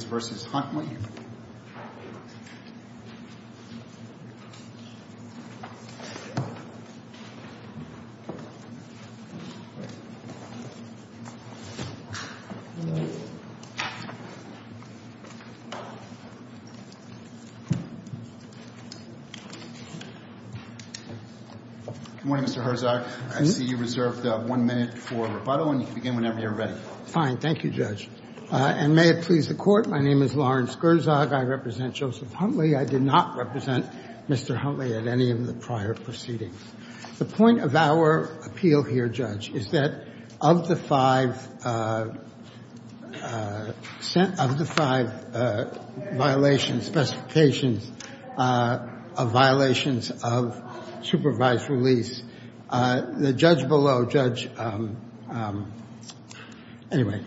Good morning, Mr. Herzog. I see you reserved one minute for rebuttal, and you can begin whenever you're ready. Fine. Thank you, Judge. And may it please the Court, my name is Lawrence Herzog. I represent Joseph Huntley. I did not represent Mr. Huntley at any of the prior proceedings. The point of our appeal here, Judge, is that of the five violations, specifications of violations of supervised release. The judge below, Judge—anyway,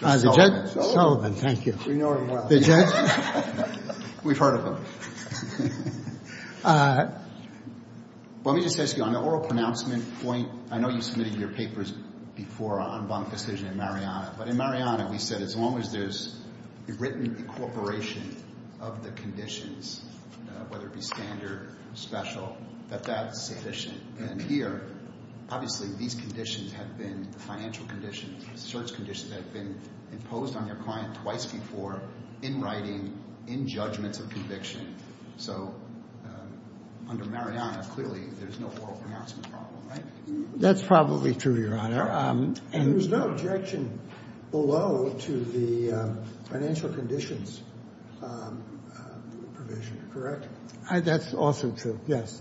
the judge— Sullivan, thank you. We know him well. The judge— We've heard of him. Let me just ask you, on the oral pronouncement point, I know you submitted your papers before on bone decision in Mariana, but in Mariana, we said as long as there's a written incorporation of the conditions, whether it be standard, special, that that's sufficient. And here, obviously, these conditions have been the financial conditions, the search conditions that have been imposed on your client twice before in writing, in judgments of conviction. So under Mariana, clearly, there's no oral pronouncement problem, right? That's probably true, Your Honor. And there's no objection below to the financial conditions provision, correct? That's also true, yes.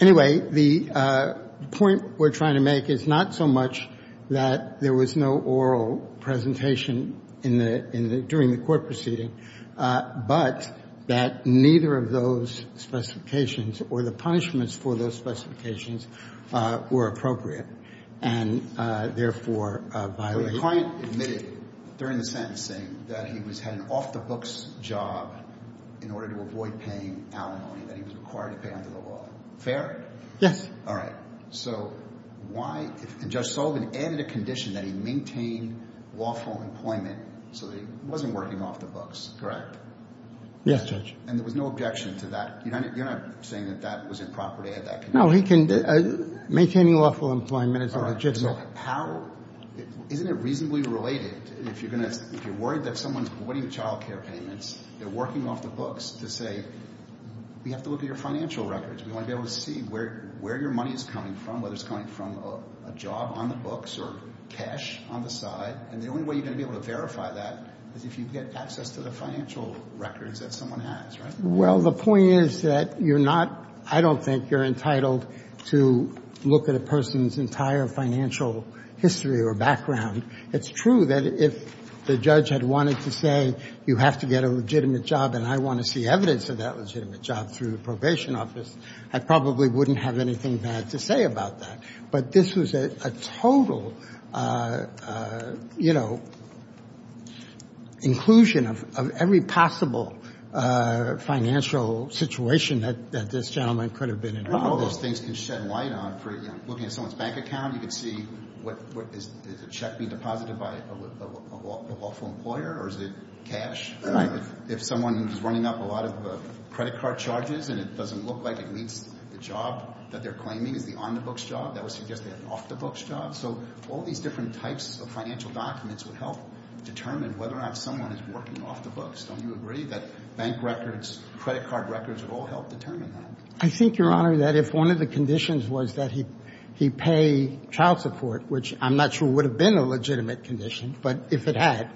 Anyway, the point we're trying to make is not so much that there was no oral presentation during the court proceeding, but that neither of those specifications or the punishments for those specifications were appropriate, and therefore violated. So the client admitted during the sentencing that he had an off-the-books job in order to avoid paying alimony that he was required to pay under the law. Fair? Yes. All right. So why—and Judge Sullivan added a condition that he maintained lawful employment so that he wasn't working off the books, correct? Yes, Judge. And there was no objection to that? You're not saying that that was improper to add that condition? No, he can—maintaining lawful employment is illegitimate. All right. So how—isn't it reasonably related if you're going to—if you're worried that someone's avoiding child care payments, they're working off the books to say, we have to look at your financial records. We want to be able to see where your money is coming from, whether it's coming from a job on the books or cash on the side. And the only way you're going to be able to verify that is if you get access to the financial records that someone has, right? Well, the point is that you're not—I don't think you're entitled to look at a person's entire financial history or background. It's true that if the judge had wanted to say, you have to get a legitimate job and I want to see evidence of that legitimate job through the probation office, I probably wouldn't have anything bad to say about that. But this was a total, you know, inclusion of every possible financial situation that this gentleman could have been in. Well, all those things can shed light on for—looking at someone's bank account, you can see what—is a check being deposited by a lawful employer or is it cash? Right. If someone is running up a lot of credit card charges and it doesn't look like it meets the job that they're claiming is the on-the-books job, that would suggest they have an off-the-books job. So all these different types of financial documents would help determine whether or not someone is working off the books. Don't you agree that bank records, credit card records would all help determine that? I think, Your Honor, that if one of the conditions was that he pay child support, which I'm not sure would have been a legitimate condition, but if it had,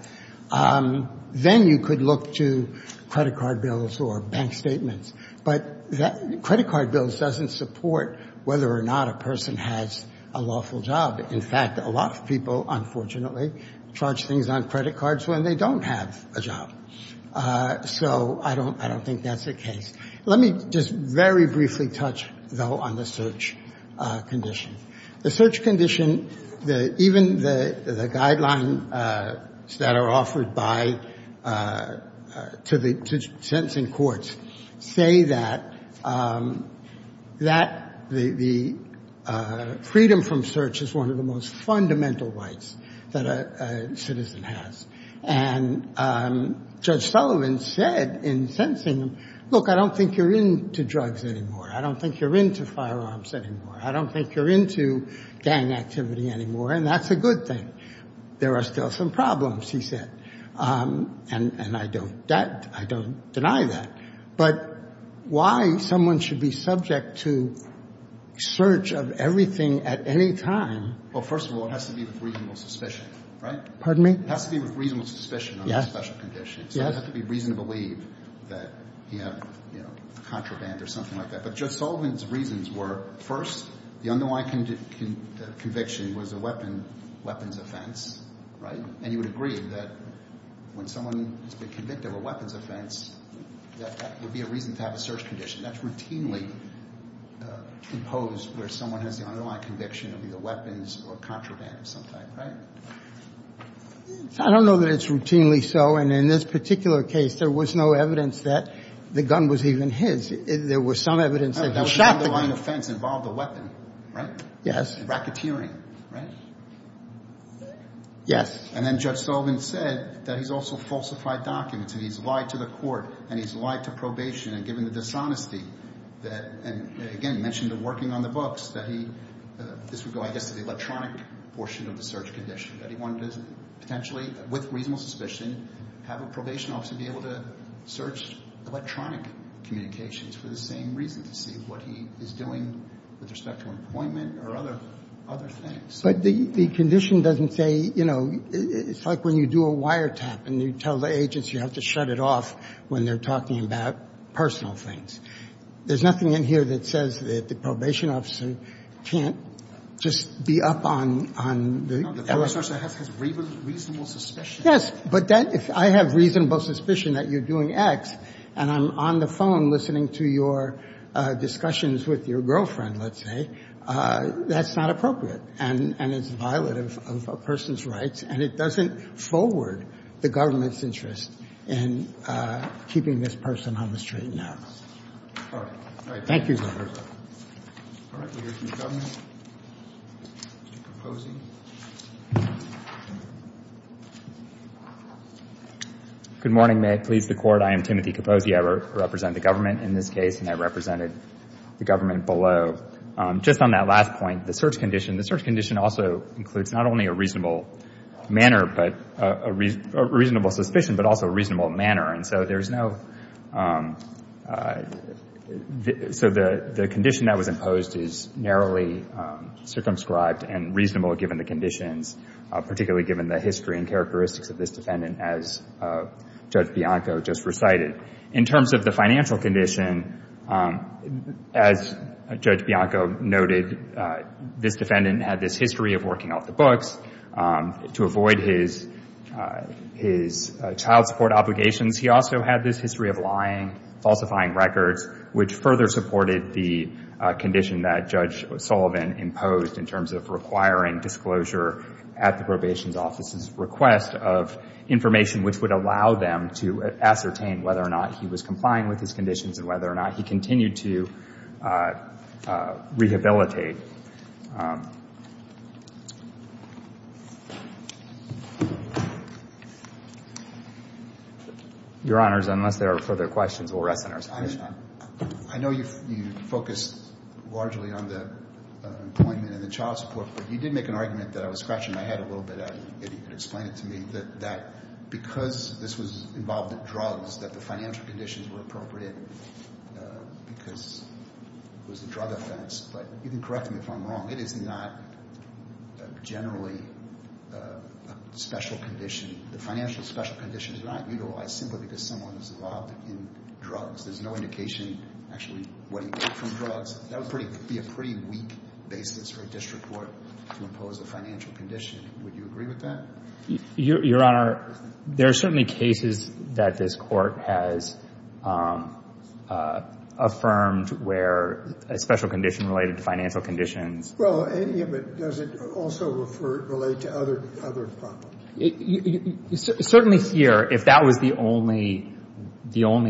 then you could look to credit card bills or bank statements. But credit card bills doesn't support whether or not a person has a lawful job. In fact, a lot of people, unfortunately, charge things on credit cards when they don't have a job. So I don't think that's the case. Let me just very briefly touch, though, on the search condition. The search condition, even the guidelines that are offered to sentencing courts, say that the freedom from search is one of the most fundamental rights that a citizen has. And Judge Sullivan said in sentencing, look, I don't think you're into drugs anymore. I don't think you're into firearms anymore. I don't think you're into gang activity anymore. And that's a good thing. There are still some problems, he said. And I don't deny that. But why someone should be subject to search of everything at any time? Well, first of all, it has to be with reasonable suspicion, right? Pardon me? It has to be with reasonable suspicion on a special condition. Yes. So it has to be reason to believe that he had a contraband or something like that. But Judge Sullivan's reasons were, first, the underlying conviction was a weapons offense, right? And he would agree that when someone has been convicted of a weapons offense, that would be a reason to have a search condition. That's routinely imposed where someone has the underlying conviction of either weapons or contraband of some type, right? I don't know that it's routinely so. And in this particular case, there was no evidence that the gun was even his. There was some evidence that he shot the gun. The underlying offense involved a weapon, right? Yes. Racketeering, right? Yes. And then Judge Sullivan said that he's also falsified documents, and he's lied to the court, and he's lied to probation, and given the dishonesty that, and again, mentioned working on the books, that he, this would go, I guess, to the electronic portion of the search condition, that he wanted to potentially, with reasonable suspicion, have a probation officer be able to search electronic communications for the same reason, to see what he is doing with respect to an appointment or other things. But the condition doesn't say, you know, it's like when you do a wiretap and you tell the agency you have to shut it off when they're talking about personal things. There's nothing in here that says that the probation officer can't just be up on the evidence. No, the probation officer has reasonable suspicion. Yes, but that, if I have reasonable suspicion that you're doing X and I'm on the phone listening to your discussions with your girlfriend, let's say, that's not appropriate, and it's a violation of a person's rights, and it doesn't forward the government's interest in keeping this person on the street now. All right. Thank you. All right. Let's hear from the government. Timothy Capozzi. Good morning. May it please the Court. I am Timothy Capozzi. I represent the government in this case, and I represented the government below. Just on that last point, the search condition, the search condition also includes not only a reasonable manner, but a reasonable suspicion, but also a reasonable manner. And so there's no – so the condition that was imposed is narrowly circumscribed and reasonable given the conditions, particularly given the history and characteristics of this defendant, as Judge Bianco just recited. In terms of the financial condition, as Judge Bianco noted, this defendant had this history of working off the books to avoid his child support obligations. He also had this history of lying, falsifying records, which further supported the condition that Judge Sullivan imposed in terms of requiring disclosure at the probation office's request of information, which would allow them to ascertain whether or not he was complying with his conditions and whether or not he continued to rehabilitate. Your Honors, unless there are further questions, we'll rest on our supposition. I know you focused largely on the employment and the child support, but you did make an argument that I was scratching my head a little bit, if you could explain it to me, that because this was involved in drugs, that the financial conditions were appropriate because it was a drug offense. But you can correct me if I'm wrong. It is not generally a special condition. The financial special condition is not utilized simply because someone is involved in drugs. There's no indication, actually, what he ate from drugs. That would be a pretty weak basis for a district court to impose a financial condition. Would you agree with that? Your Honor, there are certainly cases that this Court has affirmed where a special condition related to financial conditions. Well, does it also relate to other problems? Certainly here, if that was the only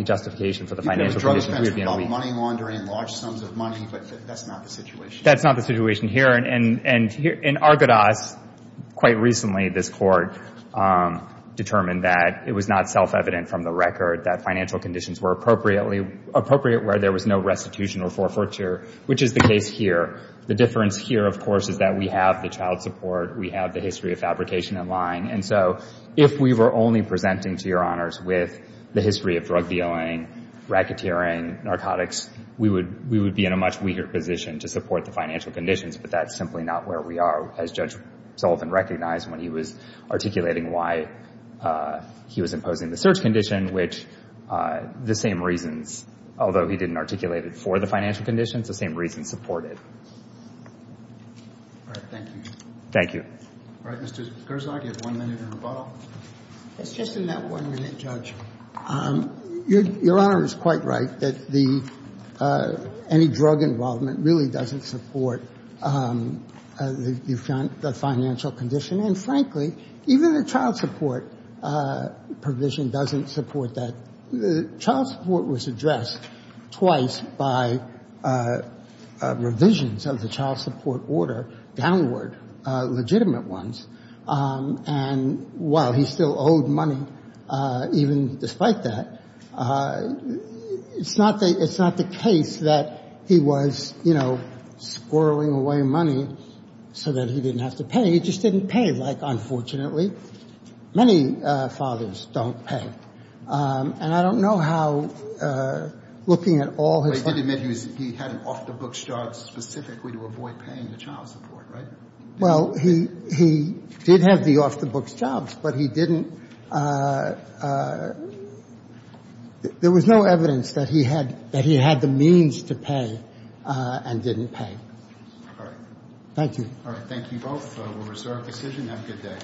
justification for the financial condition, we would be in a weak position. It was a drug offense involving money laundering and large sums of money, but that's not the situation. That's not the situation here. And in Argadas, quite recently, this Court determined that it was not self-evident from the record that financial conditions were appropriate where there was no restitution or forfeiture, which is the case here. The difference here, of course, is that we have the child support. We have the history of fabrication in line. And so if we were only presenting, to your honors, with the history of drug dealing, racketeering, narcotics, we would be in a much weaker position to support the financial conditions. But that's simply not where we are, as Judge Sullivan recognized when he was articulating why he was imposing the search condition, which the same reasons, although he didn't articulate it for the financial conditions, the same reasons support it. All right. Thank you. Thank you. All right. Mr. Gerzog, you have one minute in rebuttal. It's just in that one minute, Judge. Your Honor is quite right that any drug involvement really doesn't support the financial condition. And frankly, even the child support provision doesn't support that. Child support was addressed twice by revisions of the child support order, downward legitimate ones. And while he still owed money, even despite that, it's not the case that he was, you know, squirreling away money so that he didn't have to pay. He just didn't pay. Like, unfortunately, many fathers don't pay. And I don't know how looking at all his... But he did admit he had an off-the-books job specifically to avoid paying the child support, right? Well, he did have the off-the-books jobs, but he didn't... There was no evidence that he had the means to pay and didn't pay. All right. Thank you. All right. Thank you both. We'll restore our decision. Have a good day.